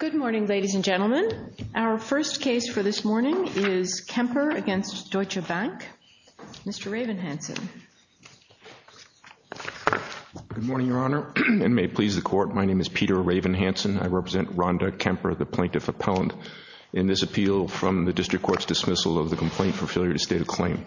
Good morning, ladies and gentlemen. Our first case for this morning is Kemper v. Deutsche Bank. Mr. Ravenhansen. Good morning, Your Honor, and may it please the Court, my name is Peter Ravenhansen. I represent Rhonda Kemper, the plaintiff appellant, in this appeal from the District Court's dismissal of the complaint for failure to state a claim.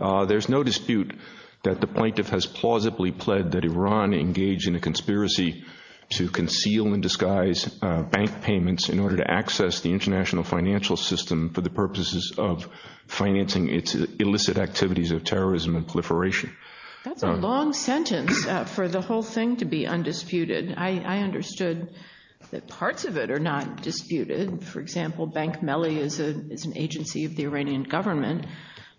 There's no dispute that the plaintiff has plausibly pled that Iran engaged in a conspiracy to conceal and disguise bank payments in order to access the international financial system for the purposes of financing its illicit activities of terrorism and proliferation. That's a long sentence for the whole thing to be undisputed. I understood that parts of it are not disputed. For example, Bank Melli is an agency of the Iranian government,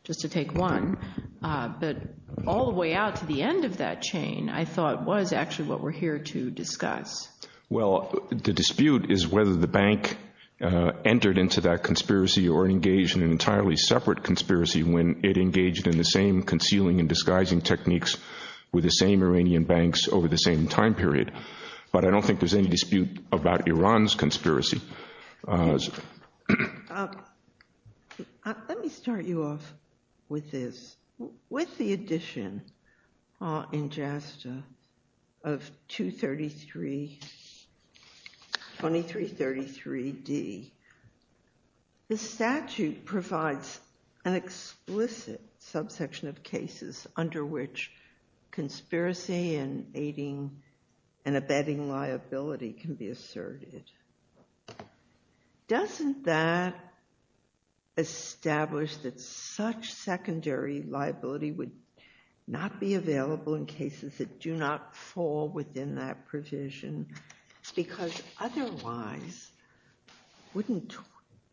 just to take one. But all the way out to the end of that chain, I thought, was actually what we're here to discuss. Well, the dispute is whether the bank entered into that conspiracy or engaged in an entirely separate conspiracy when it engaged in the same concealing and disguising techniques with the same Iranian banks over the same time period. But I don't think there's any dispute about Iran's conspiracy. Let me start you off with this. With the addition in JASTA of 2333d, the statute provides an explicit subsection of cases under which conspiracy and aiding and abetting liability can be asserted. Doesn't that establish that such secondary liability would not be available in cases that do not fall within that provision? Because otherwise, wouldn't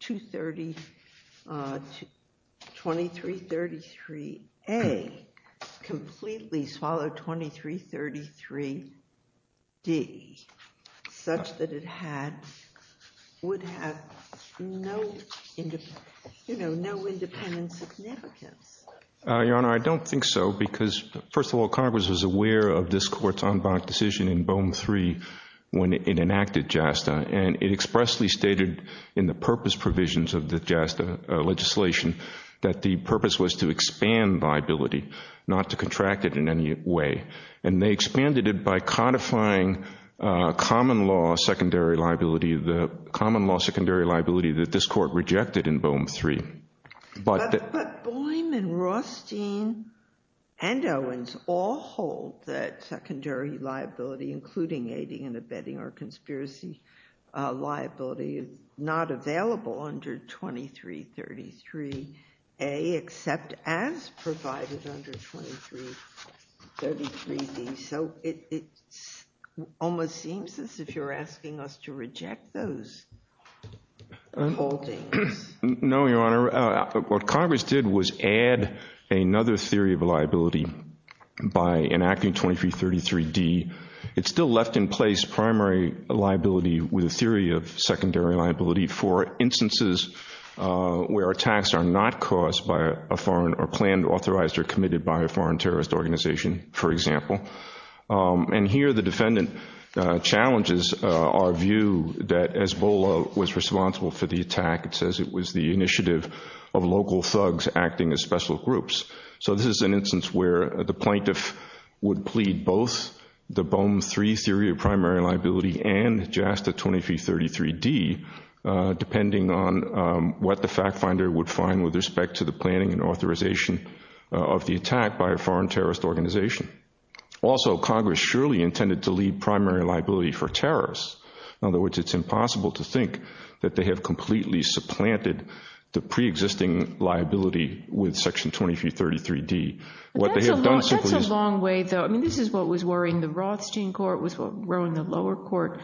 2333a completely swallow 2333d, such that it would have no independent significance? Your Honor, I don't think so, because, first of all, Congress was aware of this court's en banc decision in BOEM III when it enacted JASTA, and it expressly stated in the purpose provisions of the JASTA legislation that the purpose was to expand liability, not to contract it in any way. And they expanded it by codifying common law secondary liability, the common law secondary liability that this court rejected in BOEM III. But BOEM and Rothstein and Owens all hold that secondary liability, including aiding and abetting or conspiracy liability, is not available under 2333a, except as provided under 2333d. So it almost seems as if you're asking us to reject those holdings. No, Your Honor. What Congress did was add another theory of liability by enacting 2333d. It still left in place primary liability with a theory of secondary liability for instances where attacks are not caused by a foreign or planned, authorized, or committed by a foreign terrorist organization, for example. And here the defendant challenges our view that EZBOLA was responsible for the attack. It says it was the initiative of local thugs acting as special groups. So this is an instance where the plaintiff would plead both the BOEM III theory of primary liability and JASTA 2333d, depending on what the fact finder would find with respect to the planning and authorization of the attack by a foreign terrorist organization. Also, Congress surely intended to leave primary liability for terrorists. In other words, it's impossible to think that they have completely supplanted the preexisting liability with Section 2333d. But that's a long way, though. I mean, this is what was worrying the Rothstein court, what was worrying the lower court.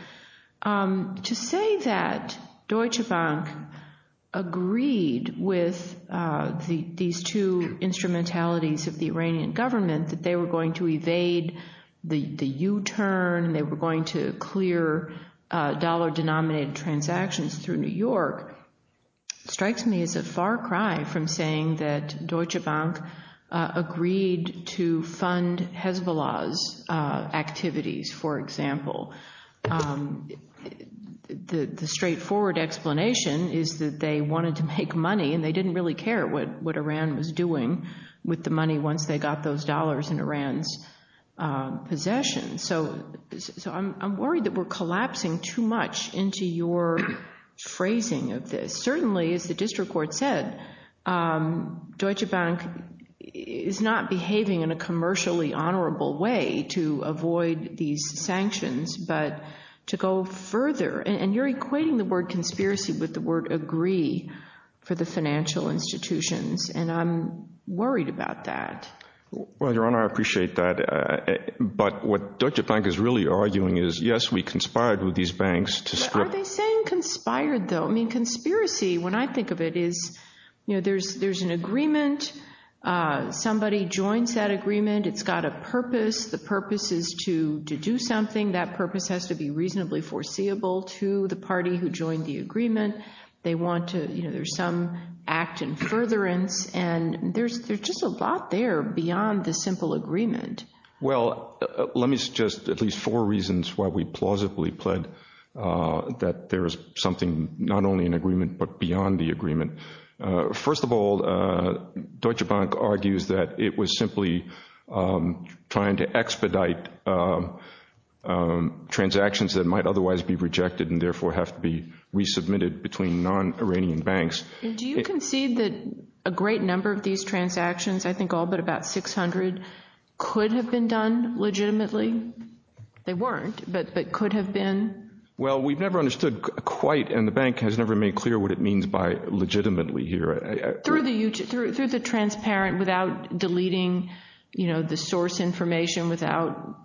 To say that Deutsche Bank agreed with these two instrumentalities of the Iranian government, that they were going to evade the U-turn, they were going to clear dollar-denominated transactions through New York, strikes me as a far cry from saying that Deutsche Bank agreed with the U-turn. They agreed to fund Hezbollah's activities, for example. The straightforward explanation is that they wanted to make money and they didn't really care what Iran was doing with the money once they got those dollars in Iran's possession. So I'm worried that we're collapsing too much into your phrasing of this. Certainly, as the district court said, Deutsche Bank is not behaving in a commercially honorable way to avoid these sanctions, but to go further. And you're equating the word conspiracy with the word agree for the financial institutions, and I'm worried about that. Well, Your Honor, I appreciate that. But what Deutsche Bank is really arguing is, yes, we conspired with these banks to strip – Well, let me suggest at least four reasons why we plausibly pled that there is something not only in agreement but beyond the agreement. First of all, Deutsche Bank argues that it was simply trying to expedite transactions that might otherwise be rejected and therefore have to be resubmitted between non-Iranian banks. Do you concede that a great number of these transactions, I think all but about 600, could have been done legitimately? They weren't, but could have been? Well, we've never understood quite, and the bank has never made clear what it means by legitimately here. Through the transparent, without deleting the source information, without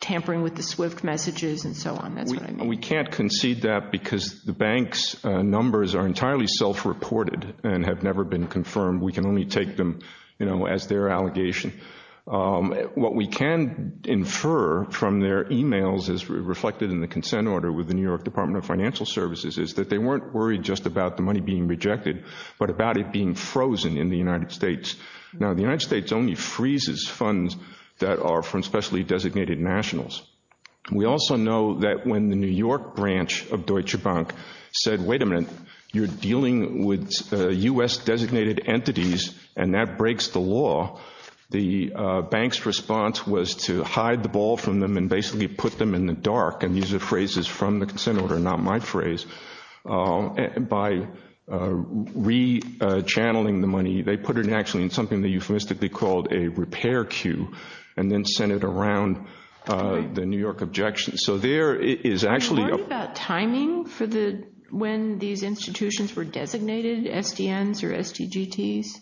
tampering with the SWIFT messages and so on. That's what I mean. We can't concede that because the bank's numbers are entirely self-reported and have never been confirmed. We can only take them as their allegation. What we can infer from their emails as reflected in the consent order with the New York Department of Financial Services is that they weren't worried just about the money being rejected, but about it being frozen in the United States. Now, the United States only freezes funds that are from specially designated nationals. We also know that when the New York branch of Deutsche Bank said, wait a minute, you're dealing with U.S. designated entities and that breaks the law, the bank's response was to hide the ball from them and basically put them in the dark. And these are phrases from the consent order, not my phrase. By re-channeling the money, they put it actually in something they euphemistically called a repair queue and then sent it around the New York objections. So there is actually a… Are you worried about timing for when these institutions were designated, SDNs or SDGTs?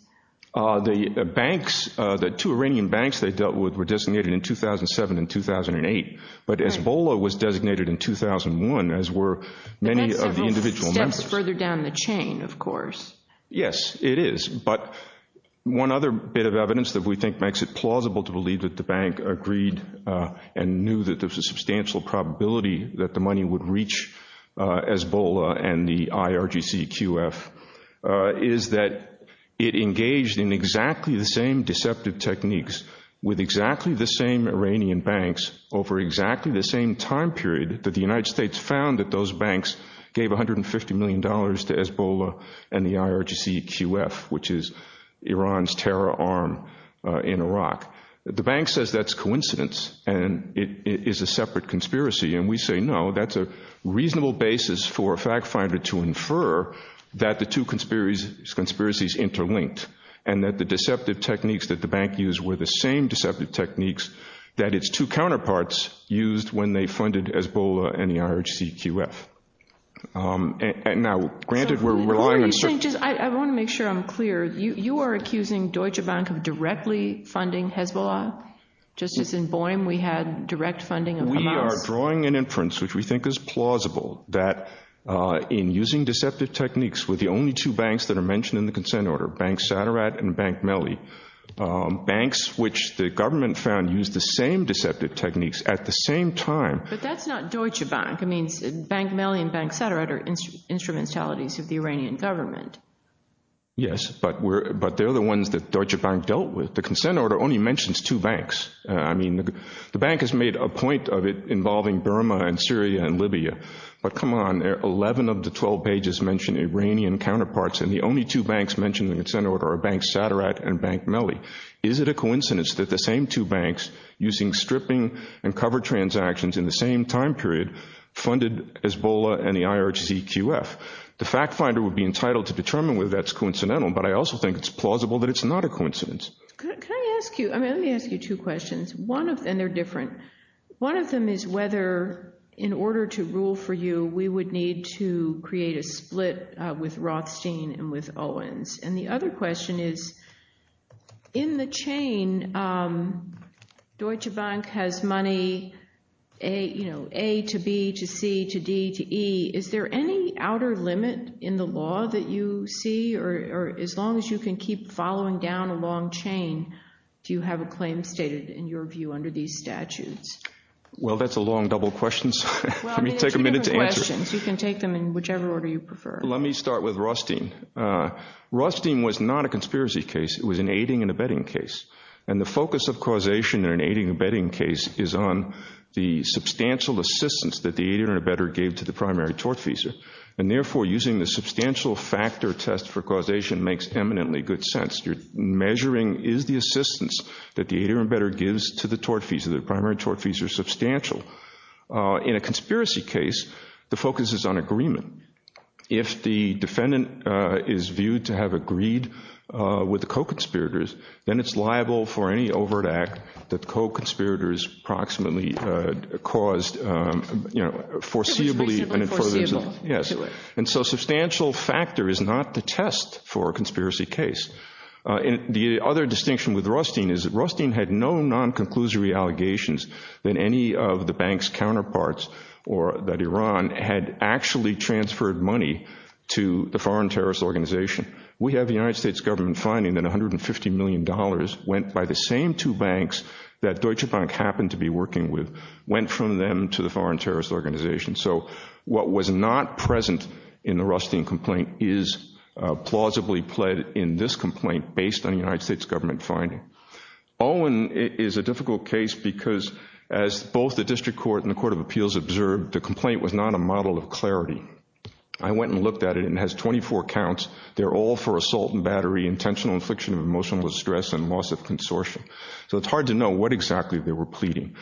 The banks, the two Iranian banks they dealt with were designated in 2007 and 2008, but Ebola was designated in 2001, as were many of the individual members. That's several steps further down the chain, of course. Yes, it is. But one other bit of evidence that we think makes it plausible to believe that the bank agreed and knew that there was a substantial probability that the money would reach Ebola and the IRGCQF is that it engaged in exactly the same deceptive techniques with exactly the same Iranian banks over exactly the same time period that the United States found that those banks gave $150 million to Ebola and the IRGCQF. Which is Iran's terror arm in Iraq. The bank says that's coincidence and it is a separate conspiracy. And we say no, that's a reasonable basis for a fact finder to infer that the two conspiracies interlinked and that the deceptive techniques that the bank used were the same deceptive techniques that its two counterparts used when they funded Ebola and the IRGCQF. I want to make sure I'm clear. You are accusing Deutsche Bank of directly funding Hezbollah, just as in Boehm we had direct funding of Hamas? We are drawing an inference which we think is plausible that in using deceptive techniques with the only two banks that are mentioned in the consent order, Bank Saderat and Bank Melli, banks which the government found used the same deceptive techniques at the same time. But that's not Deutsche Bank. I mean Bank Melli and Bank Saderat are instrumentalities of the Iranian government. Yes, but they're the ones that Deutsche Bank dealt with. The consent order only mentions two banks. I mean the bank has made a point of it involving Burma and Syria and Libya. But come on, 11 of the 12 pages mention Iranian counterparts and the only two banks mentioned in the consent order are Bank Saderat and Bank Melli. Is it a coincidence that the same two banks, using stripping and cover transactions in the same time period, funded Hezbollah and the IRGCQF? The fact finder would be entitled to determine whether that's coincidental, but I also think it's plausible that it's not a coincidence. Can I ask you, I mean let me ask you two questions, and they're different. One of them is whether in order to rule for you we would need to create a split with Rothstein and with Owens. And the other question is, in the chain, Deutsche Bank has money A to B to C to D to E. Is there any outer limit in the law that you see? Or as long as you can keep following down a long chain, do you have a claim stated in your view under these statutes? Well, that's a long double question, so let me take a minute to answer. You can take them in whichever order you prefer. Let me start with Rothstein. Rothstein was not a conspiracy case. It was an aiding and abetting case. And the focus of causation in an aiding and abetting case is on the substantial assistance that the aider and abetter gave to the primary tortfeasor. And therefore using the substantial factor test for causation makes eminently good sense. Your measuring is the assistance that the aider and abetter gives to the tortfeasor. The primary tortfeasor is substantial. In a conspiracy case, the focus is on agreement. If the defendant is viewed to have agreed with the co-conspirators, then it's liable for any overt act that the co-conspirators approximately caused, you know, foreseeably. It was basically foreseeable. Yes. And so substantial factor is not the test for a conspiracy case. The other distinction with Rothstein is that Rothstein had no non-conclusory allegations that any of the bank's counterparts, or that Iran, had actually transferred money to the foreign terrorist organization. We have the United States government finding that $150 million went by the same two banks that Deutsche Bank happened to be working with, went from them to the foreign terrorist organization. So what was not present in the Rothstein complaint is plausibly pled in this complaint based on the United States government finding. Owen is a difficult case because as both the district court and the court of appeals observed, the complaint was not a model of clarity. I went and looked at it and it has 24 counts. They're all for assault and battery, intentional infliction of emotional distress, and loss of consortium. So it's hard to know what exactly they were pleading.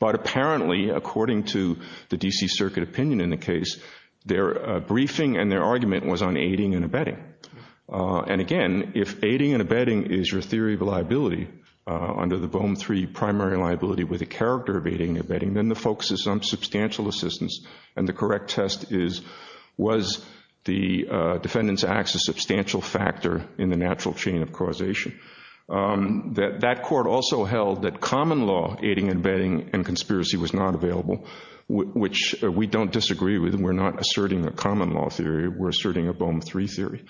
But apparently, according to the D.C. Circuit opinion in the case, their briefing and their argument was on aiding and abetting. And again, if aiding and abetting is your theory of liability under the BOEM III primary liability with the character of aiding and abetting, then the focus is on substantial assistance. And the correct test is, was the defendant's acts a substantial factor in the natural chain of causation? That court also held that common law aiding and abetting and conspiracy was not available, which we don't disagree with. We're not asserting a common law theory. We're asserting a BOEM III theory.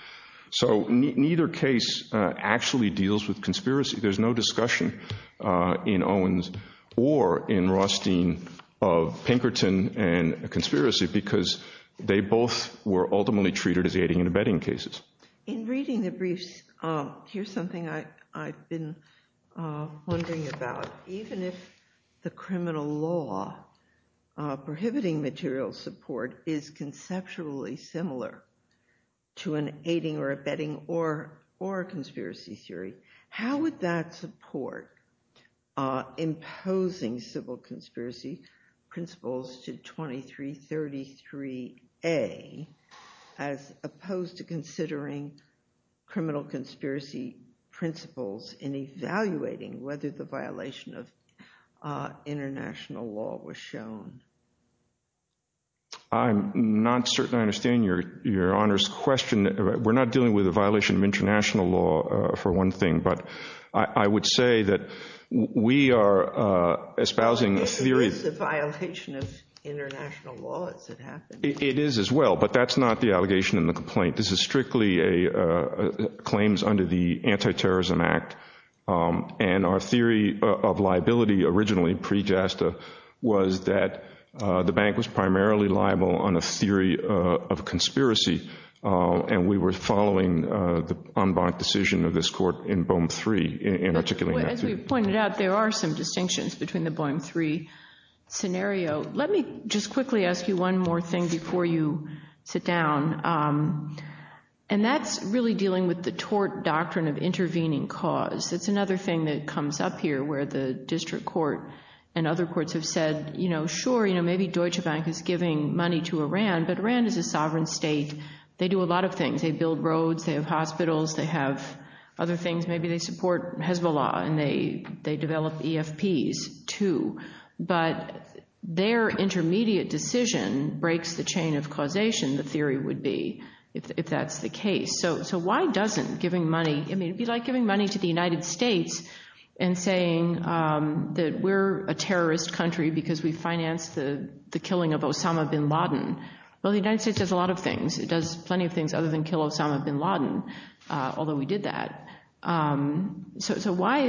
So neither case actually deals with conspiracy. There's no discussion in Owen's or in Rothstein of Pinkerton and conspiracy because they both were ultimately treated as aiding and abetting cases. In reading the briefs, here's something I've been wondering about. Even if the criminal law prohibiting material support is conceptually similar to an aiding or abetting or conspiracy theory, how would that support imposing civil conspiracy principles to 2333A as opposed to considering criminal conspiracy principles in evaluating whether the violation of international law was shown? I'm not certain I understand your Honor's question. We're not dealing with a violation of international law for one thing, but I would say that we are espousing a theory. It is a violation of international law. It's a fact. It is as well, but that's not the allegation in the complaint. This is strictly claims under the Anti-Terrorism Act. And our theory of liability originally pre-JASTA was that the bank was primarily liable on a theory of conspiracy. And we were following the unbanked decision of this court in BOEM III in articulating that theory. As we pointed out, there are some distinctions between the BOEM III scenario. Let me just quickly ask you one more thing before you sit down. And that's really dealing with the tort doctrine of intervening cause. It's another thing that comes up here where the district court and other courts have said, sure, maybe Deutsche Bank is giving money to Iran, but Iran is a sovereign state. They do a lot of things. They build roads. They have hospitals. They have other things. Maybe they support Hezbollah and they develop EFPs, too. But their intermediate decision breaks the chain of causation, the theory would be, if that's the case. So why doesn't giving money—I mean, it would be like giving money to the United States and saying that we're a terrorist country because we financed the killing of Osama bin Laden. Well, the United States does a lot of things. It does plenty of things other than kill Osama bin Laden, although we did that. So why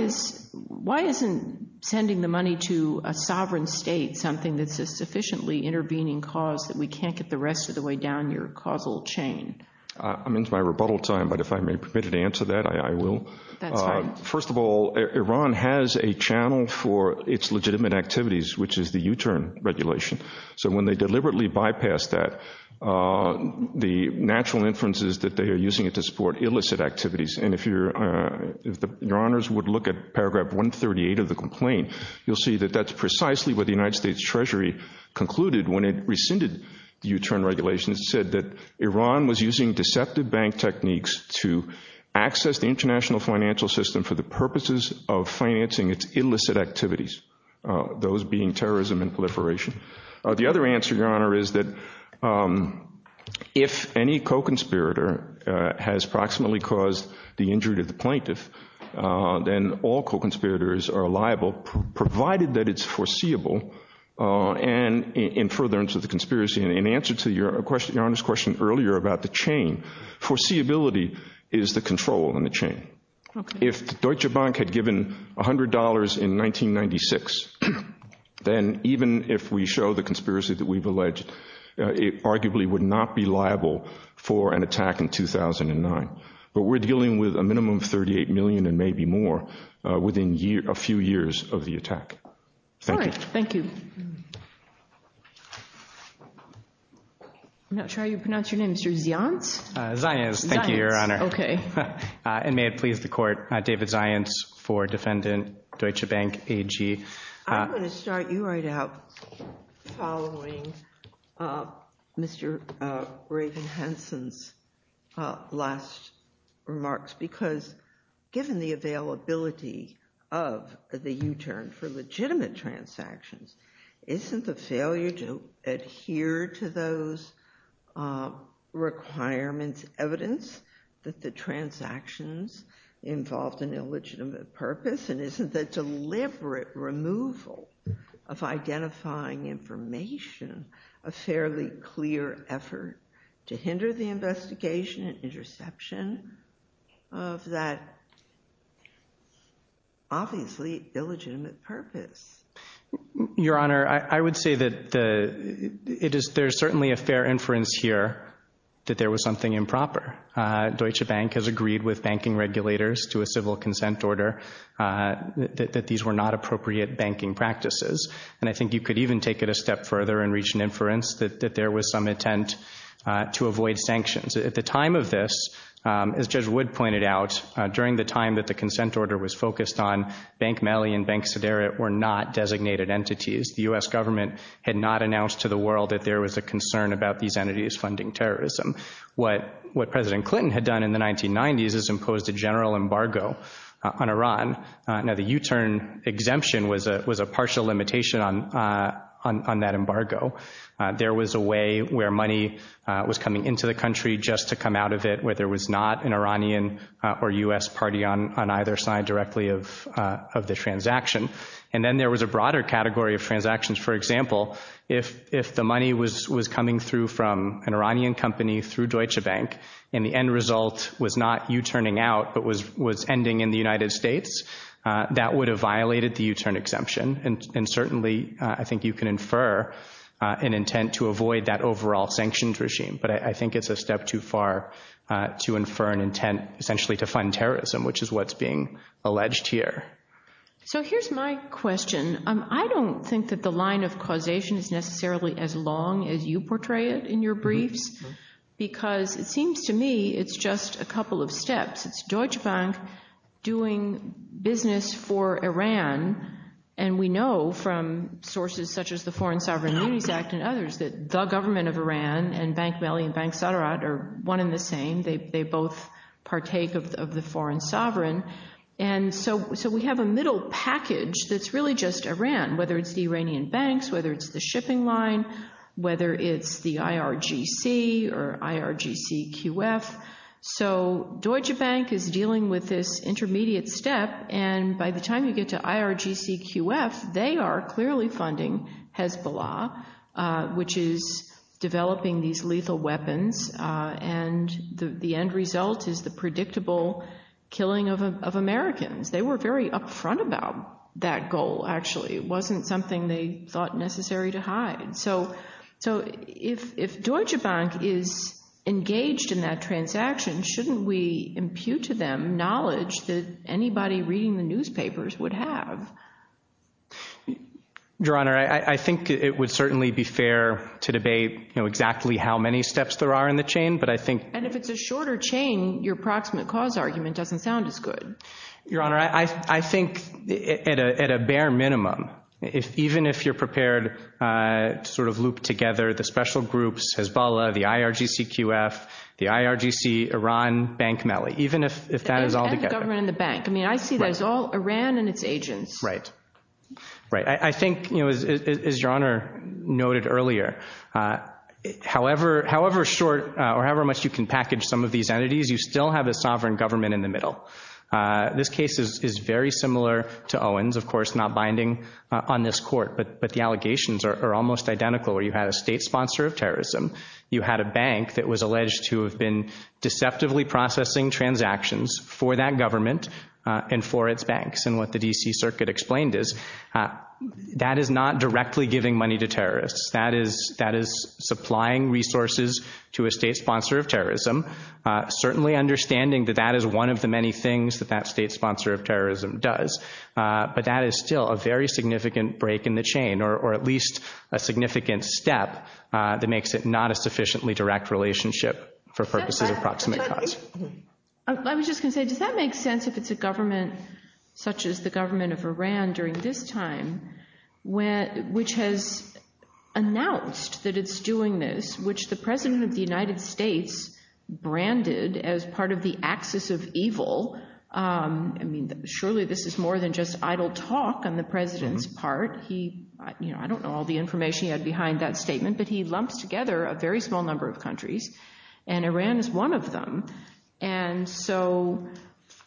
isn't sending the money to a sovereign state something that's a sufficiently intervening cause that we can't get the rest of the way down your causal chain? I'm into my rebuttal time, but if I may be permitted to answer that, I will. That's fine. First of all, Iran has a channel for its legitimate activities, which is the U-turn regulation. So when they deliberately bypass that, the natural inference is that they are using it to support illicit activities. And if your honors would look at paragraph 138 of the complaint, you'll see that that's precisely what the United States Treasury concluded when it rescinded the U-turn regulation. It said that Iran was using deceptive bank techniques to access the international financial system for the purposes of financing its illicit activities, those being terrorism and proliferation. The other answer, your honor, is that if any co-conspirator has proximately caused the injury to the plaintiff, then all co-conspirators are liable, provided that it's foreseeable. And in furtherance of the conspiracy, in answer to your honor's question earlier about the chain, foreseeability is the control in the chain. If Deutsche Bank had given $100 in 1996, then even if we show the conspiracy that we've alleged, it arguably would not be liable for an attack in 2009. But we're dealing with a minimum of $38 million and maybe more within a few years of the attack. Thank you. I'm not sure how you pronounce your name, Mr. Zianz? Zianz, thank you, your honor. And may it please the court, David Zianz for defendant Deutsche Bank AG. I'm going to start you right out following Mr. Raven-Henson's last remarks, because given the availability of the U-turn for legitimate transactions, isn't the failure to adhere to those requirements evidence that the transactions involved an illegitimate purpose? And isn't the deliberate removal of identifying information a fairly clear effort to hinder the investigation and interception of that obviously illegitimate purpose? Your honor, I would say that there's certainly a fair inference here that there was something improper. Deutsche Bank has agreed with banking regulators to a civil consent order that these were not appropriate banking practices. And I think you could even take it a step further and reach an inference that there was some intent to avoid sanctions. At the time of this, as Judge Wood pointed out, during the time that the consent order was focused on, Bank Melly and Bank Sedera were not designated entities. The U.S. government had not announced to the world that there was a concern about these entities funding terrorism. What President Clinton had done in the 1990s is imposed a general embargo on Iran. Now, the U-turn exemption was a partial limitation on that embargo. There was a way where money was coming into the country just to come out of it where there was not an Iranian or U.S. party on either side directly of the transaction. And then there was a broader category of transactions. For example, if the money was coming through from an Iranian company through Deutsche Bank and the end result was not U-turning out but was ending in the United States, that would have violated the U-turn exemption. And certainly, I think you can infer an intent to avoid that overall sanctions regime. But I think it's a step too far to infer an intent essentially to fund terrorism, which is what's being alleged here. So here's my question. I don't think that the line of causation is necessarily as long as you portray it in your briefs, because it seems to me it's just a couple of steps. We have Deutsche Bank doing business for Iran. And we know from sources such as the Foreign Sovereign Immunities Act and others that the government of Iran and Bank Mali and Bank Sadrat are one and the same. They both partake of the foreign sovereign. And so we have a middle package that's really just Iran, whether it's the Iranian banks, whether it's the shipping line, whether it's the IRGC or IRGCQF. So Deutsche Bank is dealing with this intermediate step. And by the time you get to IRGCQF, they are clearly funding Hezbollah, which is developing these lethal weapons. And the end result is the predictable killing of Americans. They were very upfront about that goal, actually. It wasn't something they thought necessary to hide. So if Deutsche Bank is engaged in that transaction, shouldn't we impute to them knowledge that anybody reading the newspapers would have? Your Honor, I think it would certainly be fair to debate exactly how many steps there are in the chain. And if it's a shorter chain, your approximate cause argument doesn't sound as good. Your Honor, I think at a bare minimum, even if you're prepared to sort of loop together the special groups, Hezbollah, the IRGCQF, the IRGC, Iran, Bank Mali, even if that is all together. And the government and the bank. I mean, I see that as all Iran and its agents. Right. Right. I think, you know, as Your Honor noted earlier, however short or however much you can package some of these entities, you still have a sovereign government in the middle. This case is very similar to Owens, of course, on this court. But the allegations are almost identical where you had a state sponsor of terrorism. You had a bank that was alleged to have been deceptively processing transactions for that government and for its banks. And what the D.C. Circuit explained is that is not directly giving money to terrorists. That is supplying resources to a state sponsor of terrorism, certainly understanding that that is one of the many things that that state sponsor of terrorism does. But that is still a very significant break in the chain or at least a significant step that makes it not a sufficiently direct relationship for purposes of proximate cause. I was just going to say, does that make sense if it's a government such as the government of Iran during this time, which has announced that it's doing this, which the president of the United States branded as part of the axis of evil. I mean, surely this is more than just idle talk on the president's part. He, you know, I don't know all the information he had behind that statement, but he lumps together a very small number of countries and Iran is one of them. And so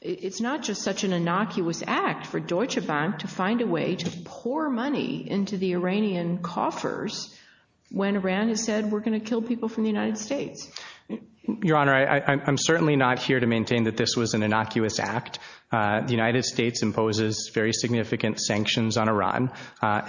it's not just such an innocuous act for Deutsche Bank to find a way to pour money into the Iranian coffers when Iran has said we're going to kill people from the United States. Your Honor, I'm certainly not here to maintain that this was an innocuous act. The United States imposes very significant sanctions on Iran.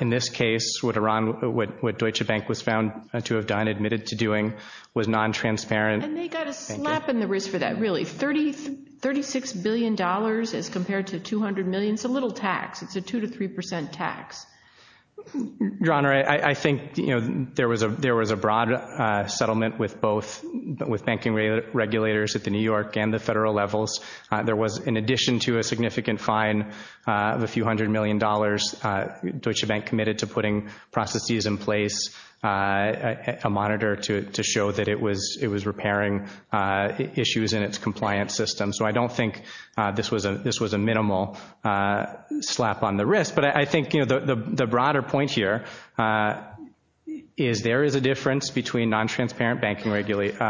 In this case, what Iran, what Deutsche Bank was found to have done, admitted to doing, was non-transparent. And they got a slap in the wrist for that, really. $36 billion as compared to $200 million. It's a little tax. It's a 2 to 3 percent tax. Your Honor, I think, you know, there was a broad settlement with both, with banking regulators at the New York and the federal levels. There was, in addition to a significant fine of a few hundred million dollars, Deutsche Bank committed to putting processes in place, a monitor to show that it was repairing issues in its compliance system. So I don't think this was a minimal slap on the wrist. But I think, you know, the broader point here is there is a difference between non-transparent banking regulations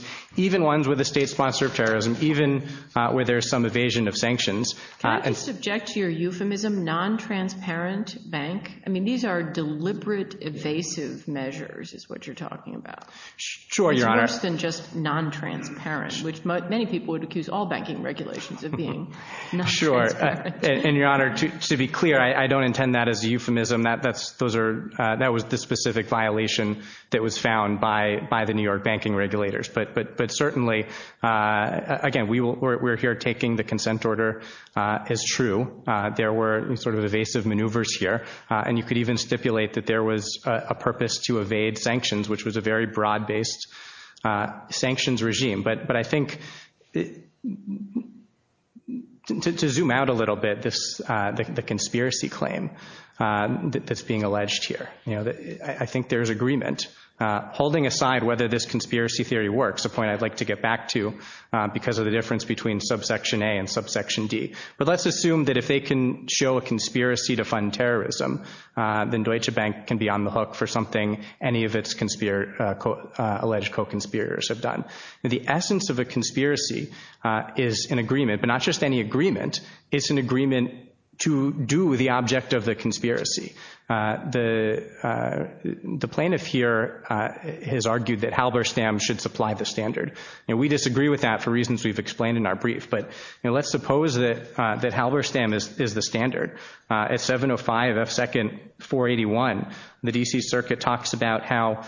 and even ones with a state sponsor of terrorism, even where there's some evasion of sanctions. Can I just subject to your euphemism non-transparent bank? I mean, these are deliberate evasive measures, is what you're talking about. Sure, Your Honor. It's worse than just non-transparent, which many people would accuse all banking regulations of being non-transparent. Sure. And Your Honor, to be clear, That was the specific violation that was found by the New York State Department of Justice. Certainly, again, we're here taking the consent order as true. There were sort of evasive maneuvers here. And you could even stipulate that there was a purpose to evade sanctions, which was a very broad-based sanctions regime. But I think, to zoom out a little bit, the conspiracy claim that's being alleged here, I think there's agreement. Holding aside whether this conspiracy theory works, which we're going to get back to, because of the difference between subsection A and subsection D. But let's assume that if they can show a conspiracy to fund terrorism, then Deutsche Bank can be on the hook for something any of its alleged co-conspirators have done. The essence of a conspiracy is an agreement, but not just any agreement. It's an agreement to do the object of the conspiracy. The plaintiff here has argued that Halberstam should supply the standard. And we disagree with that for reasons we've explained in our brief. But let's suppose that Halberstam is the standard. At 705 F. 2nd 481, the D.C. Circuit talks about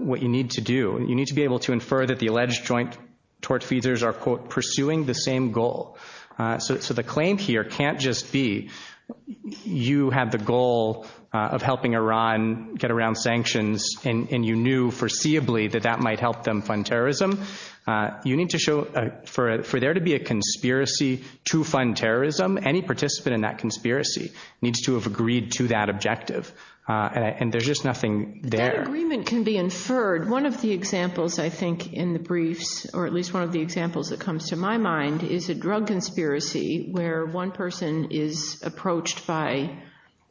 what you need to do. You need to be able to infer that the alleged joint tortfeasors are, quote, pursuing the same goal. So the claim here can't just be you have the goal of helping Iran get around sanctions and you knew foreseeably that that might help them fund terrorism. You need to show, for there to be a conspiracy to fund terrorism, any participant in that conspiracy needs to have agreed to that objective. And there's just nothing there. That agreement can be inferred. One of the examples I think in the briefs, or at least one of the examples that comes to my mind, is a drug conspiracy where one person is approached by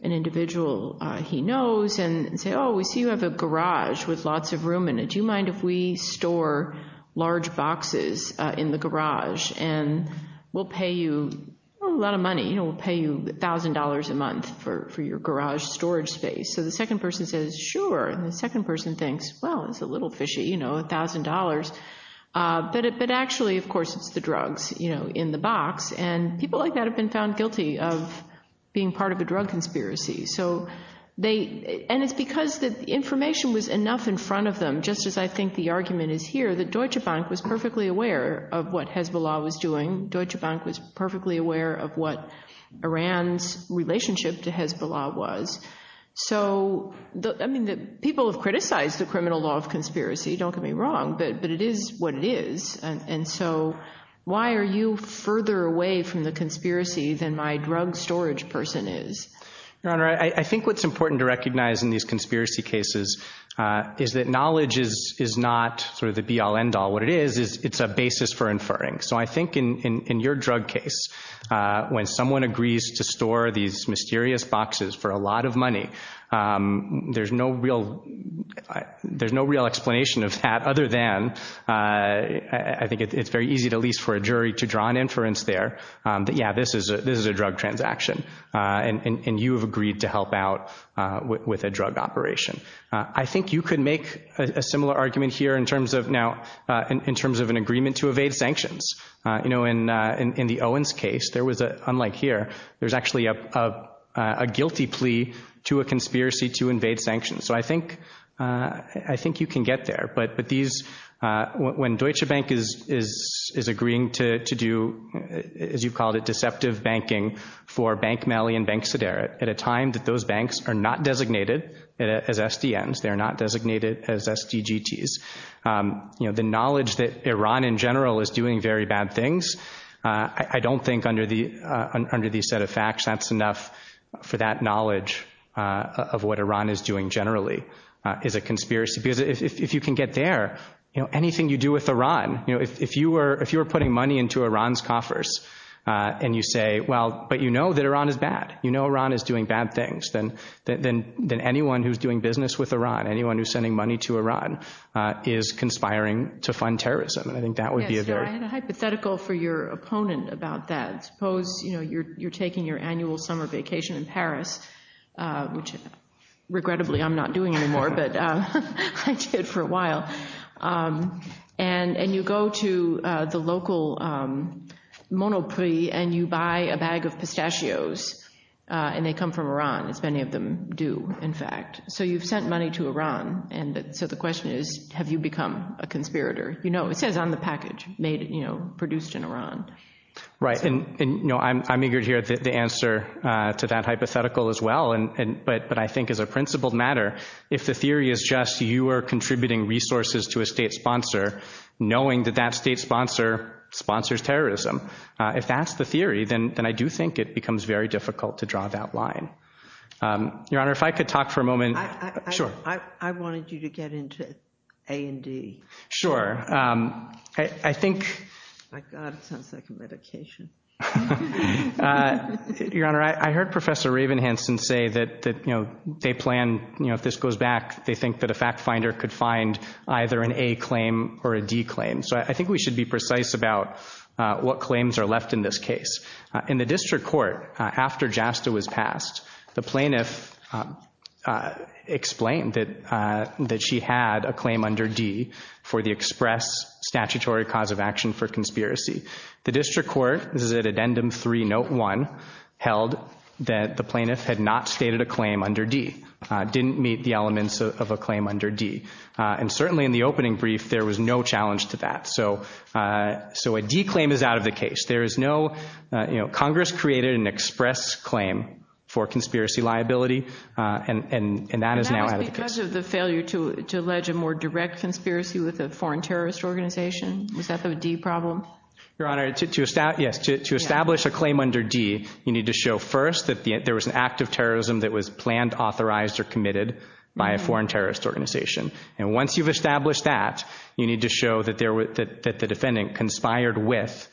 an individual he knows and say, oh, we see you have a garage with lots of room in it. Do you mind if we store large boxes in the garage? And we'll pay you a lot of money. You know, we'll pay you $1,000 a month for your garage storage space. So the second person says, sure. And the second person thinks, well, it's a little fishy, you know, $1,000. But actually, of course, it's the drugs in the box. And people like that have been found guilty of being part of a drug conspiracy. And it's because the information was enough in front of them, just as I think the argument is here, that Deutsche Bank was perfectly aware of what Hezbollah was doing. Deutsche Bank was perfectly aware of what Iran's relationship to Hezbollah was. So, I mean, people have criticized the criminal law of conspiracy. Don't get me wrong, but it is what it is. And so why are you further away from the conspiracy than my drug storage person is? Your Honor, I think what's important to recognize in these conspiracy cases is that knowledge is not sort of the be-all, end-all. What it is is it's a basis for inferring. So I think in your drug case, when someone agrees to store these mysterious boxes for a lot of money, there's no real explanation of that other than I think it's very easy at least for a jury to draw an inference there that, yeah, this is a drug transaction. And you have agreed to help out with a drug operation. I think you could make a similar argument here in terms of an agreement to evade sanctions. You know, in the Owens case, unlike here, there's actually a guilty plea to a conspiracy to evade sanctions. So I think you can get there. But when Deutsche Bank is agreeing to do, as you called it, deceptive banking for Bank Malley and Bank Sederet at a time that those banks are not designated as SDNs, they're not designated as SDGTs, you know, the knowledge that Iran in general is doing very bad things, I don't think under the set of facts that's enough for that knowledge of what Iran is doing generally is a conspiracy. Because if you can get there, you know, anything you do with Iran, you know, if you were putting money into Iran's coffers and you say, well, but you know that Iran is bad. You know Iran is doing bad things. Then anyone who's doing business with Iran, anyone who's sending money to Iran is conspiring to fund terrorism. And I think that would be a very— Yeah, so I had a hypothetical for your opponent about that. Suppose, you know, you're taking your annual summer vacation in Paris, which regrettably I'm not doing anymore, but I did for a while. And you go to the local Monoprix and you buy a bag of pistachios, and they come from Iran, as many of them do, in fact. So you've sent money to Iran, and so the question is, have you become a conspirator? You know, it says on the package, you know, produced in Iran. Right, and you know, I'm eager to hear the answer to that hypothetical as well. But I think as a principled matter, if the theory is just you are contributing resources to a state sponsor, knowing that that state sponsor sponsors terrorism, if that's the theory, then I do think it becomes very difficult to draw that line. Your Honor, if I could talk for a moment— I wanted you to get into A&D. Sure. I think— My God, it sounds like a medication. Your Honor, I heard Professor Ravenhansen say that, you know, they plan, you know, if this goes back, they think that a fact finder could find either an A claim or a D claim. So I think we should be precise about what claims are left in this case. In the district court, after JASTA was passed, the plaintiff explained that she had a claim under D for the express statutory cause of action for conspiracy. The district court, this is at Addendum 3, Note 1, held that the plaintiff had not stated a claim under D, and certainly in the opening brief, there was no challenge to that. So a D claim is out of the case. There is no— Congress created an express claim for conspiracy liability, and that is now out of the case. And that was because of the failure to allege a more direct conspiracy with a foreign terrorist organization? Was that the D problem? Your Honor, to establish a claim under D, you need to show first that there was an act of terrorism that was planned, authorized, or committed by a foreign terrorist organization. And once you've established that, you need to show that the defendant conspired with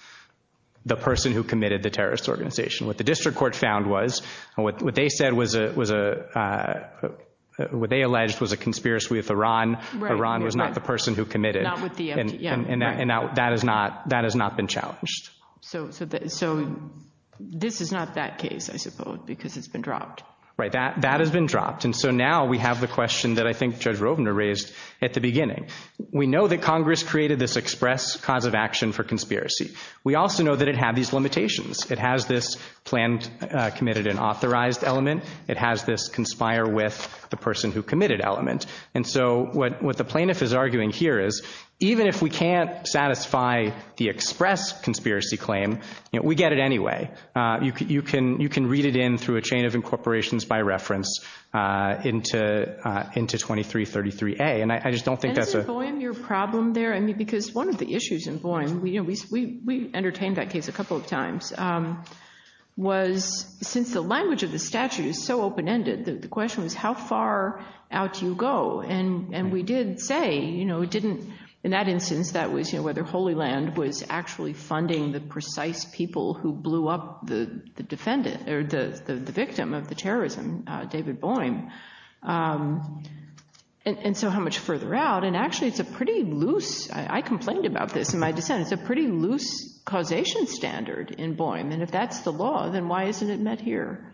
the person who committed the terrorist organization. What the district court found was, what they said was a— what they alleged was a conspiracy with Iran. Iran was not the person who committed. And that has not been challenged. So this is not that case, I suppose, because it's been dropped. Right, that has been dropped. And so now we have the question that I think Judge Rovner raised at the beginning. We know that Congress created this express cause of action for conspiracy. We also know that it had these limitations. It has this planned, committed, and authorized element. It has this conspire with the person who committed element. And so what the plaintiff is arguing here is, even if we can't satisfy the express conspiracy claim, we get it anyway. You can read it in through a chain of incorporations by reference into 2333A. And I just don't think that's a— And is it Voim your problem there? I mean, because one of the issues in Voim— we entertained that case a couple of times— was, since the language of the statute is so open-ended, the question was, how far out do you go? And we did say, you know, it didn't—in that instance, that was whether Holy Land was actually funding the precise people who helped the defendant or the victim of the terrorism, David Voim. And so how much further out? And actually, it's a pretty loose— I complained about this in my dissent— it's a pretty loose causation standard in Voim. And if that's the law, then why isn't it met here?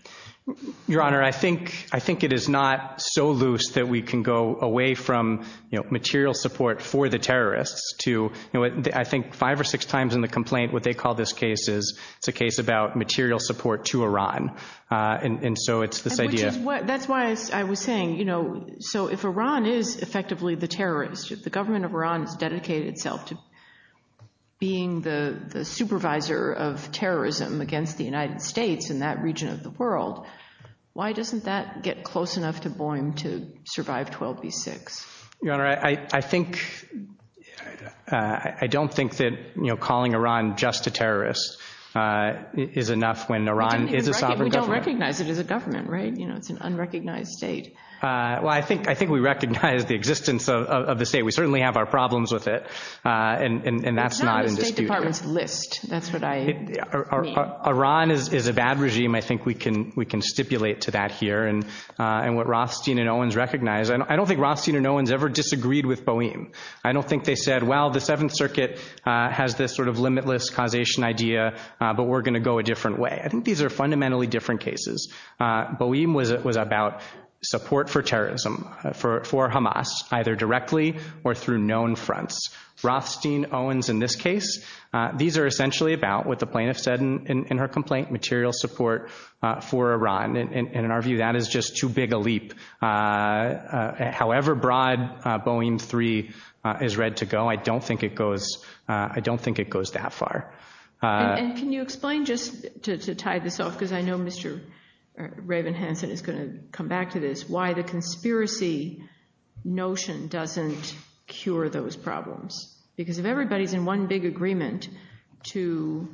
Your Honor, I think it is not so loose that we can go away from, you know, material support for the terrorists to— I think five or six times in the complaint, what they call this case is it's a case about material support to Iran. And so it's this idea— That's why I was saying, you know, so if Iran is effectively the terrorist, if the government of Iran has dedicated itself to being the supervisor of terrorism against the United States in that region of the world, why doesn't that get close enough to Voim to survive 12B6? Your Honor, I think— I don't think that, you know, calling Iran just a terrorist is enough when Iran is a sovereign government. We don't recognize it as a government, right? You know, it's an unrecognized state. Well, I think we recognize the existence of the state. We certainly have our problems with it. And that's not in dispute here. It's not on the State Department's list. That's what I mean. Iran is a bad regime. I think we can stipulate to that here. I don't think Rothstein and Owens ever disagreed with Voim. It's a limitless causation idea, but we're going to go a different way. I think these are fundamentally different cases. Voim was about support for terrorism, for Hamas, either directly or through known fronts. Rothstein, Owens in this case, these are essentially about, what the plaintiff said in her complaint, material support for Iran. And in our view, that is just too big a leap. However broad Voim 3 is read to go, I don't think it goes— it doesn't go that far. And can you explain, just to tie this off, because I know Mr. Ravenhansen is going to come back to this, why the conspiracy notion doesn't cure those problems? Because if everybody's in one big agreement to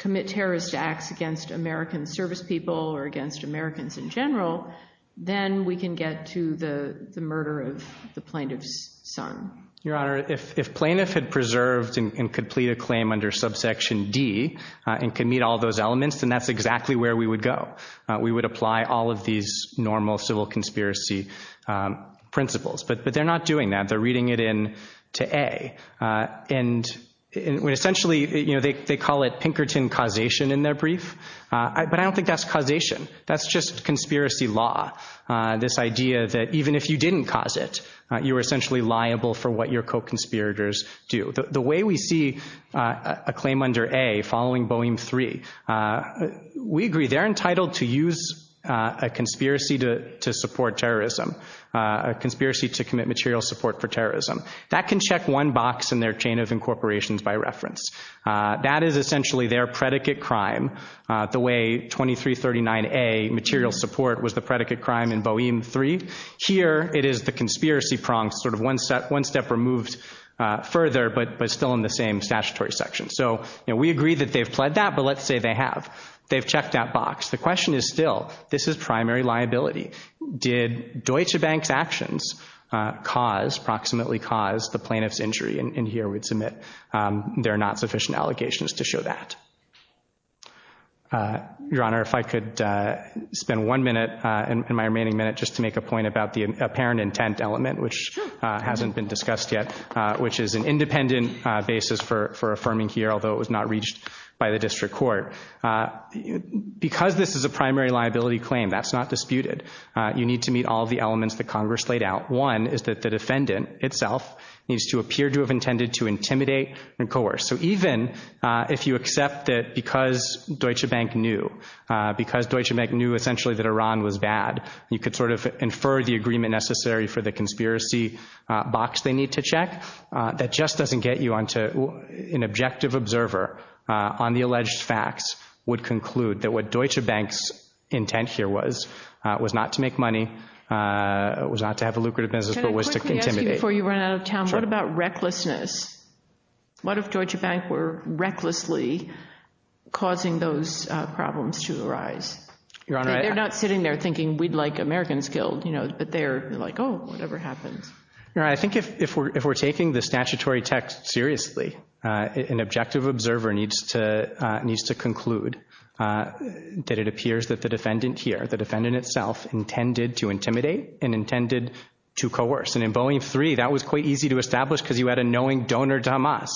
commit terrorist acts against American service people or against Americans in general, then we can get to the murder of the plaintiff's son. Your Honor, if plaintiff had preserved and could plead a claim under subsection D and could meet all those elements, then that's exactly where we would go. We would apply all of these normal civil conspiracy principles. But they're not doing that. They're reading it in to A. And essentially, they call it Pinkerton causation in their brief. But I don't think that's causation. That's just conspiracy law, this idea that even if you didn't cause it, you were essentially liable for what your co-conspirators do. If you see a claim under A following Boehm 3, we agree they're entitled to use a conspiracy to support terrorism, a conspiracy to commit material support for terrorism. That can check one box in their chain of incorporations by reference. That is essentially their predicate crime, the way 2339A, material support, was the predicate crime in Boehm 3. Here it is the conspiracy prong, sort of one step removed further, from the same statutory section. So we agree that they've pled that, but let's say they have. They've checked that box. The question is still, this is primary liability. Did Deutsche Bank's actions cause, approximately cause, the plaintiff's injury? And here we'd submit there are not sufficient allegations to show that. Your Honor, if I could spend one minute in my remaining minute just to make a point about the reason for affirming here, although it was not reached by the district court. Because this is a primary liability claim, that's not disputed. You need to meet all the elements that Congress laid out. One is that the defendant itself needs to appear to have intended to intimidate and coerce. So even if you accept that because Deutsche Bank knew, because Deutsche Bank knew essentially that Iran was bad, you could sort of infer that an objective observer on the alleged facts would conclude that what Deutsche Bank's intent here was, was not to make money, was not to have a lucrative business, but was to intimidate. Can I quickly ask you before you run out of time, what about recklessness? What if Deutsche Bank were recklessly causing those problems to arise? Your Honor, They're not sitting there thinking we'd like Americans killed, but they're like, an objective observer needs to, needs to conclude that it appears that the defendant here, the defendant itself, intended to intimidate and intended to coerce. And in Boeing 3, that was quite easy to establish because you had a knowing donor to Hamas.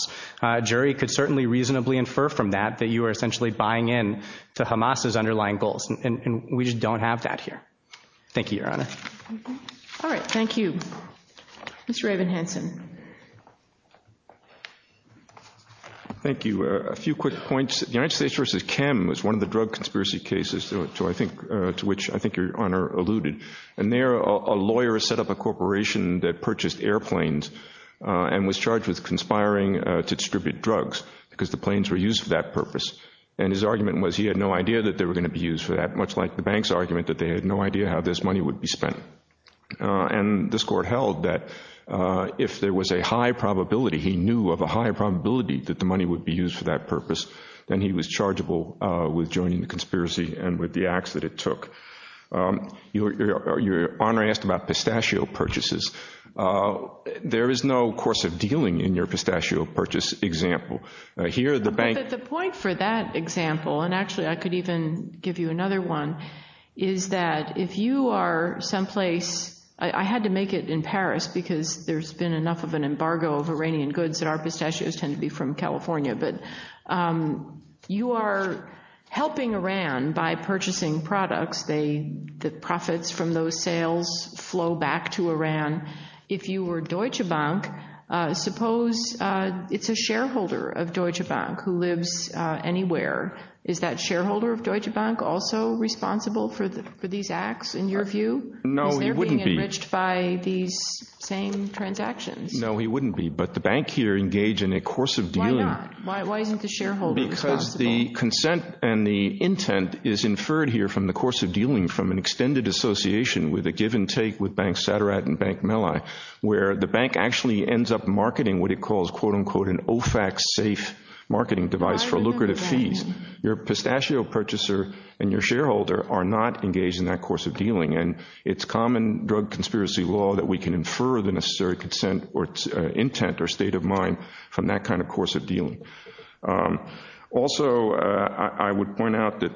A jury could certainly reasonably infer from that that you were essentially buying in to Hamas's underlying goals. And we just don't have that here. Thank you, Your Honor. All right, thank you. Mr. Evan Hansen. Thank you. A few quick points. The United States v. Chem was one of the drug conspiracy cases to which I think Your Honor alluded. And there, a lawyer set up a corporation that purchased airplanes and was charged with conspiring to distribute drugs because the planes were used for that purpose. And his argument was he had no idea that they were going to be used for that, much like the bank's argument that they had no idea how this money would be spent. And this court held that if there was a high probability, he knew of a high probability that the money would be used for that purpose, then he was chargeable with joining the conspiracy and with the acts that it took. Your Honor asked about pistachio purchases. There is no course of dealing in your pistachio purchase example. Here, the bank— But the point for that example, and actually I could even give you another one, is that if you are someplace— I had to make it in Paris because there's been enough of an embargo of Iranian goods that our pistachios tend to be from California. But you are helping Iran by purchasing products. The profits from those sales flow back to Iran. If you were Deutsche Bank, suppose it's a shareholder of Deutsche Bank who lives anywhere. Is that shareholder of Deutsche Bank also responsible for these acts, in your view? No, he wouldn't be. Is there being enriched by these same transactions? No, he wouldn't be. But the bank here engaged in a course of dealing— Why not? Why isn't the shareholder responsible? Because the consent and the intent is inferred here from the course of dealing from an extended association with a give-and-take with Bank Saderat and Bank Mellai where the bank actually ends up marketing what it calls, quote-unquote, and your shareholder are not engaged in that course of dealing. And it's common drug conspiracy law that we can infer the necessary consent or intent or state of mind from that kind of course of dealing. Also, I would point out that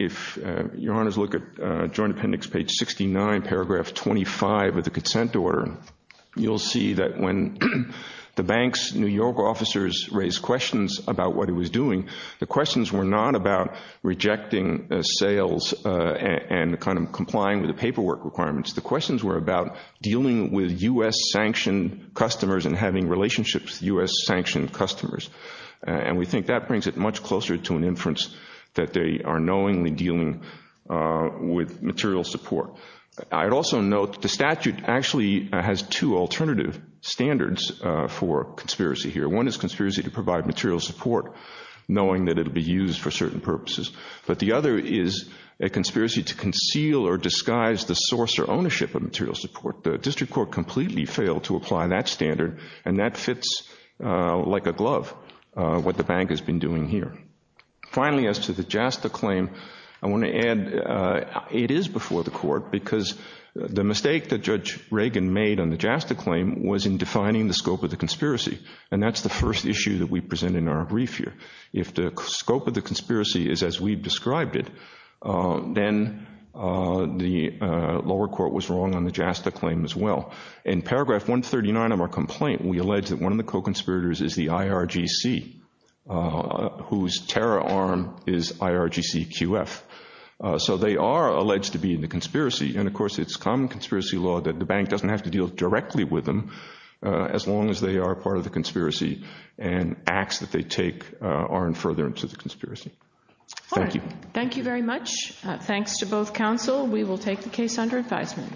if your honors look at Joint Appendix, page 69, paragraph 25 of the consent order, you'll see that when the bank's New York officers raised questions about what it was doing, the questions were not about rejecting sales and kind of complying with the paperwork requirements. The questions were about dealing with U.S.-sanctioned customers and having relationships with U.S.-sanctioned customers. And we think that brings it much closer to an inference that they are knowingly dealing with material support. I'd also note the statute actually has two alternative standards for conspiracy here. One is conspiracy to provide evidence, but the other is a conspiracy to conceal or disguise the source or ownership of material support. The district court completely failed to apply that standard, and that fits like a glove what the bank has been doing here. Finally, as to the JASTA claim, I want to add it is before the court because the mistake that Judge Reagan made on the JASTA claim was in defining the scope of the conspiracy, and that's the first issue that we present in our brief here. If the scope of the conspiracy is as we've described it, then the lower court was wrong on the JASTA claim as well. In paragraph 139 of our complaint, we allege that one of the co-conspirators is the IRGC, whose terror arm is IRGCQF. So they are alleged to be in the conspiracy, and of course it's common conspiracy law that the bank doesn't have to deal directly with them as long as they are part of the conspiracy, and acts that they take aren't further into the conspiracy. Thank you. Thank you very much. Thanks to both counsel. We will take the case under advisement.